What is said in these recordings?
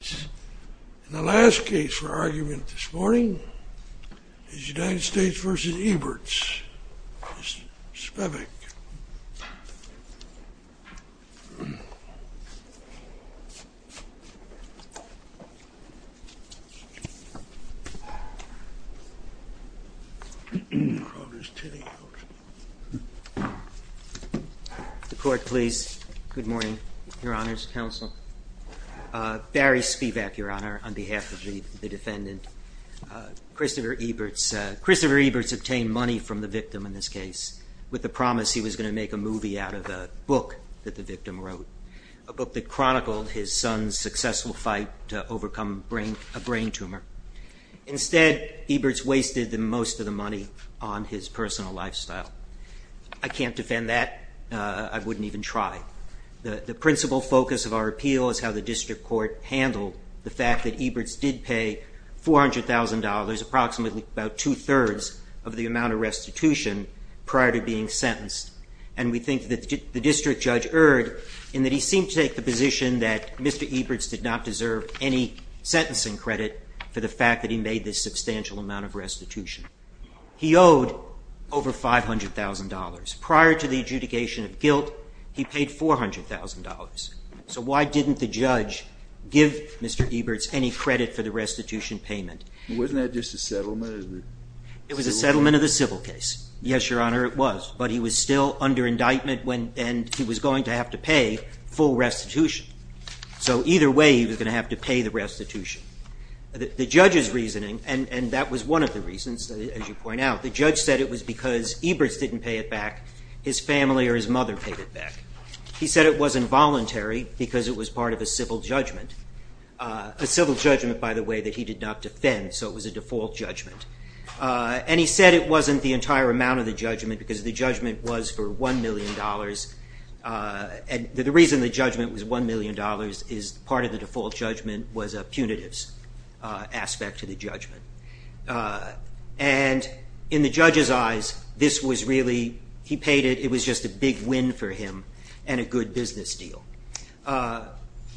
And the last case for argument this morning is United States v. Eberts. Mr. Spivak. The court please. Good morning, your honors, counsel. Barry Spivak, your honor, on behalf of the defendant. Christopher Eberts obtained money from the victim in this case with the intent that he was going to make a movie out of the book that the victim wrote, a book that chronicled his son's successful fight to overcome a brain tumor. Instead, Eberts wasted most of the money on his personal lifestyle. I can't defend that. I wouldn't even try. The principal focus of our appeal is how the district court handled the fact that Eberts did pay $400,000, approximately about two-thirds of the amount of restitution prior to being sentenced. And we think that the district judge erred in that he seemed to take the position that Mr. Eberts did not deserve any sentencing credit for the fact that he made this substantial amount of restitution. He owed over $500,000. Prior to the adjudication of guilt, he paid $400,000. So why didn't the judge give Mr. Eberts any credit for the restitution payment? Wasn't that just a settlement? It was a settlement of the civil case. Yes, Your Honor, it was. But he was still under indictment, and he was going to have to pay full restitution. So either way, he was going to have to pay the restitution. The judge's reasoning, and that was one of the reasons, as you point out, the judge said it was because Eberts didn't pay it back. His family or his mother paid it back. He said it wasn't voluntary because it was part of a civil judgment, a civil judgment, by the way, that he did not defend. So it was a default judgment. And he said it wasn't the entire amount of the judgment because the judgment was for $1 million. And the reason the judgment was $1 million is part of the default judgment was a punitive aspect to the judgment. And in the judge's eyes, this was really, he paid it, it was just a big win for him and a good business deal.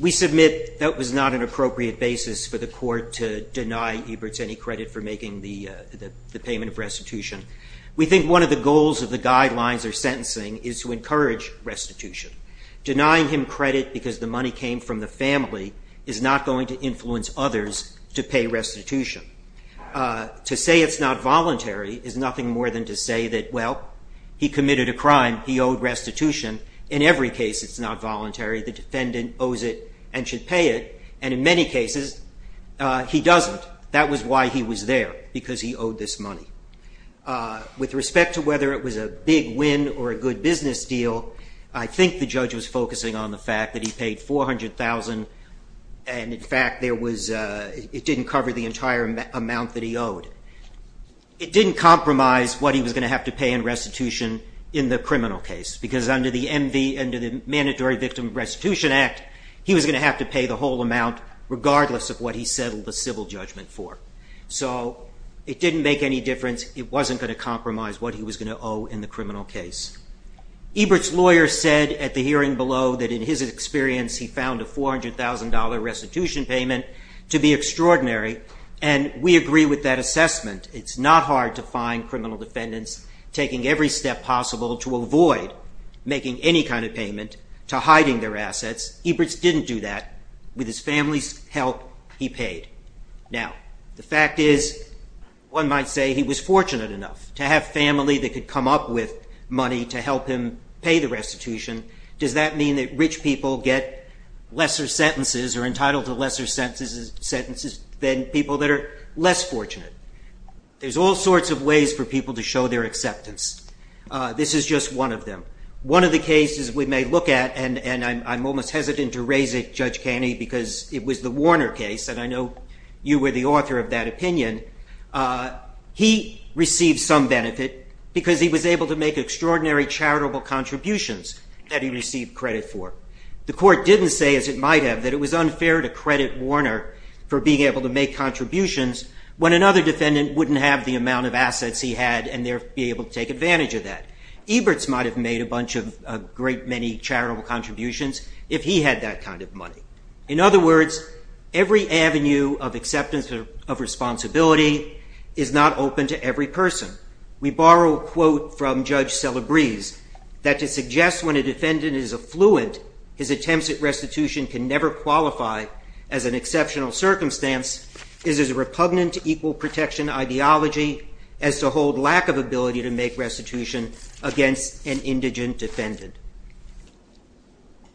We submit that was not an appropriate basis for the court to deny Eberts any credit for the payment of restitution. We think one of the goals of the guidelines or sentencing is to encourage restitution. Denying him credit because the money came from the family is not going to influence others to pay restitution. To say it's not voluntary is nothing more than to say that, well, he committed a crime, he owed restitution. In every case, it's not voluntary. The defendant owes it and should pay it. And in many cases, he doesn't. That was why he was there, because he owed this money. With respect to whether it was a big win or a good business deal, I think the judge was focusing on the fact that he paid $400,000 and, in fact, it didn't cover the entire amount that he owed. It didn't compromise what he was going to have to pay in restitution in the criminal case because under the Mandatory Victim Restitution Act, he was going to have to pay the whole amount regardless of what he settled the civil judgment for. So it didn't make any difference. It wasn't going to compromise what he was going to owe in the criminal case. Ebert's lawyer said at the hearing below that, in his experience, he found a $400,000 restitution payment to be extraordinary, and we agree with that assessment. It's not hard to find criminal defendants taking every step possible to avoid making any kind of payment to hiding their assets. Ebert's didn't do that. With his family's help, he paid. Now, the fact is, one might say he was fortunate enough to have family that could come up with money to help him pay the restitution. Does that mean that rich people get lesser sentences or entitled to lesser sentences than people that are less fortunate? There's all sorts of ways for people to show their acceptance. This is just one of them. One of the cases we may look at, and I'm almost hesitant to raise it, Judge Caney, because it was the Warner case, and I know you were the author of that opinion. He received some benefit because he was able to make extraordinary charitable contributions that he received credit for. The court didn't say, as it might have, that it was unfair to credit Warner for being able to make contributions when another defendant wouldn't have the amount of assets he had and therefore be able to take advantage of that. Ebert's might have made a bunch of great many charitable contributions if he had that kind of money. In other words, every avenue of acceptance of responsibility is not open to every person. We borrow a quote from Judge Celebrez that to suggest when a defendant is affluent, his attempts at restitution can never qualify as an exceptional circumstance is a repugnant equal protection ideology as a whole lack of ability to make restitution against an indigent defendant.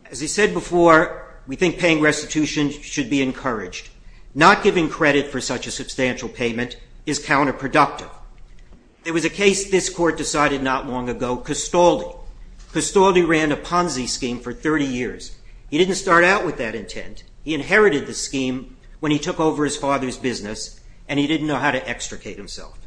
As I said before, we think paying restitution should be encouraged. Not giving credit for such a substantial payment is counterproductive. There was a case this court decided not long ago, Castaldi. Castaldi ran a Ponzi scheme for 30 years. He didn't start out with that intent. He inherited the scheme when he took over his father's business and he didn't know how to extricate himself.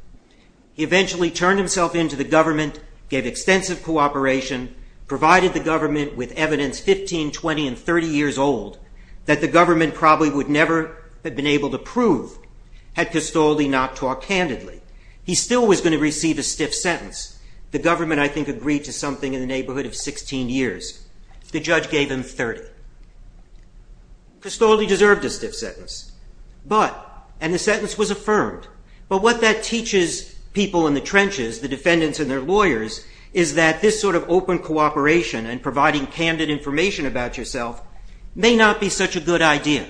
He eventually turned himself into the government, gave extensive cooperation, provided the government with evidence 15, 20, and 30 years old that the government probably would never have been able to prove had Castaldi not talked candidly. He still was going to receive a stiff sentence. The government, I think, agreed to something in the neighborhood of 16 years. The judge gave him 30. Castaldi deserved a stiff sentence, but – and the sentence was affirmed – but what that teaches people in the trenches, the defendants and their lawyers, is that this sort of open cooperation and providing candid information about yourself may not be such a good idea.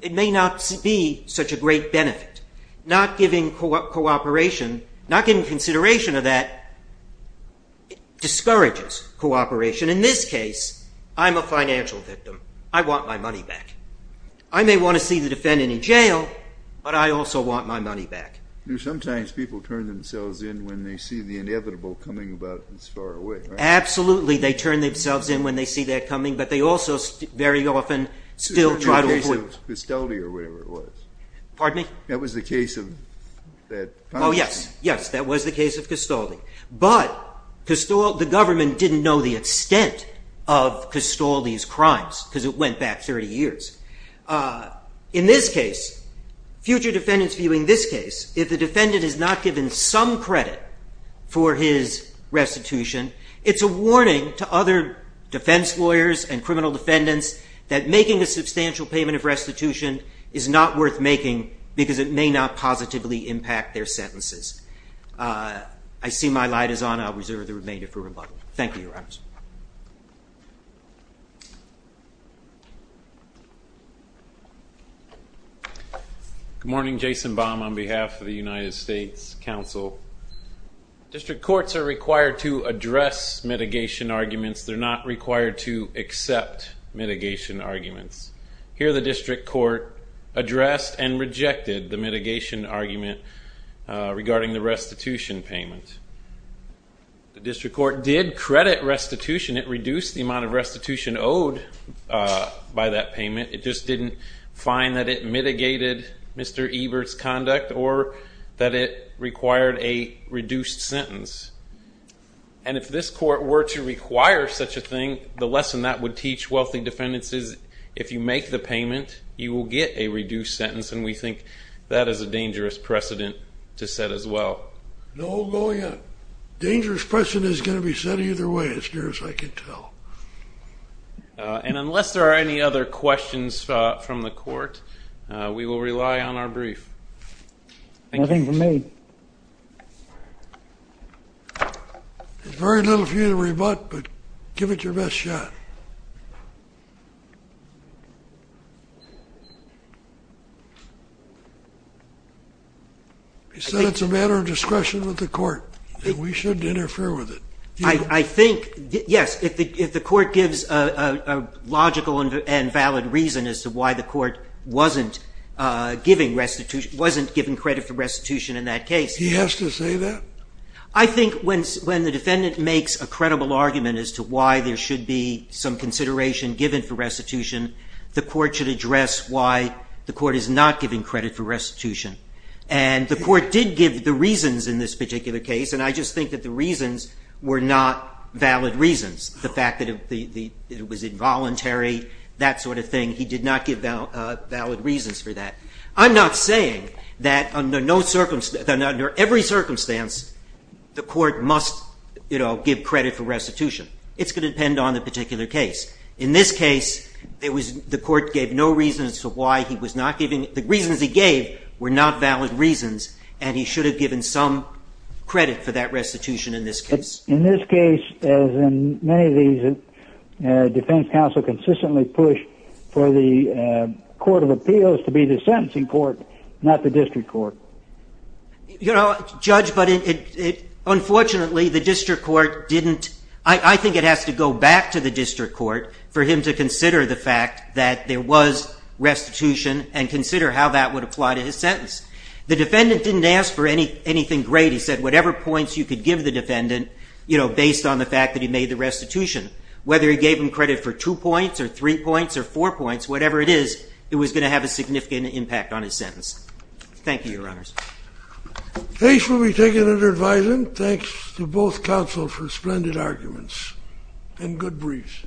It may not be such a great benefit. Not giving cooperation, not getting consideration of that, discourages cooperation. In this case, I'm a financial victim. I want my money back. I may want to see the defendant in jail, but I also want my money back. Sometimes people turn themselves in when they see the inevitable coming about this far away. Absolutely. They turn themselves in when they see that coming, but they also very often still try to avoid – Which was the case of Castaldi or whatever it was. Pardon me? That was the case of that – Oh, yes. Yes, that was the case of Castaldi. But the government didn't know the extent of Castaldi's crimes because it went back 30 years. In this case, future defendants viewing this case, if the defendant is not given some credit for his restitution, it's a warning to other defense lawyers and criminal defendants that making a substantial payment of restitution is not worth making because it may not positively impact their sentences. I see my light is on. I'll reserve the remainder for rebuttal. Thank you, Your Honors. Good morning. Jason Baum on behalf of the United States Council. District courts are required to address mitigation arguments. They're not required to accept mitigation arguments. Here, the district court addressed and rejected the mitigation argument regarding the restitution payment. The district court did credit restitution. It reduced the amount of restitution owed by that payment. It just didn't find that it mitigated Mr. Ebert's conduct or that it required a reduced sentence. And if this court were to require such a thing, the lesson that would teach wealthy defendants is if you make the payment, you will get a No going in. Dangerous question isn't going to be said either way, as near as I can tell. And unless there are any other questions from the court, we will rely on our brief. Nothing from me. There's very little for you to rebut, but give it your best shot. You said it's a matter of discretion with the court. We shouldn't interfere with it. I think, yes, if the court gives a logical and valid reason as to why the court wasn't giving credit for restitution in that case. He has to say that? I think when the defendant makes a credible argument as to why there should be some consideration given for restitution, the court should address why the court is not giving credit for restitution. And the court did give the reasons in this particular case, and I just think that the reasons were not valid reasons. The fact that it was involuntary, that sort of the court must give credit for restitution. It's going to depend on the particular case. In this case, the court gave no reason as to why he was not giving. The reasons he gave were not valid reasons, and he should have given some credit for that restitution in this case. In this case, as in many of these, defense counsel consistently push for the court of appeals to be the sentencing court, not the district court. You know, Judge, but unfortunately, I think it has to go back to the district court for him to consider the fact that there was restitution and consider how that would apply to his sentence. The defendant didn't ask for anything great. He said whatever points you could give the defendant based on the fact that he made the restitution, whether he gave him credit for two points or three points or four points, whatever it is, it was going to have a significant impact on his sentence. Thank you, Your Honors. The case will be taken under advising. Thanks to both counsel for splendid arguments and good briefs.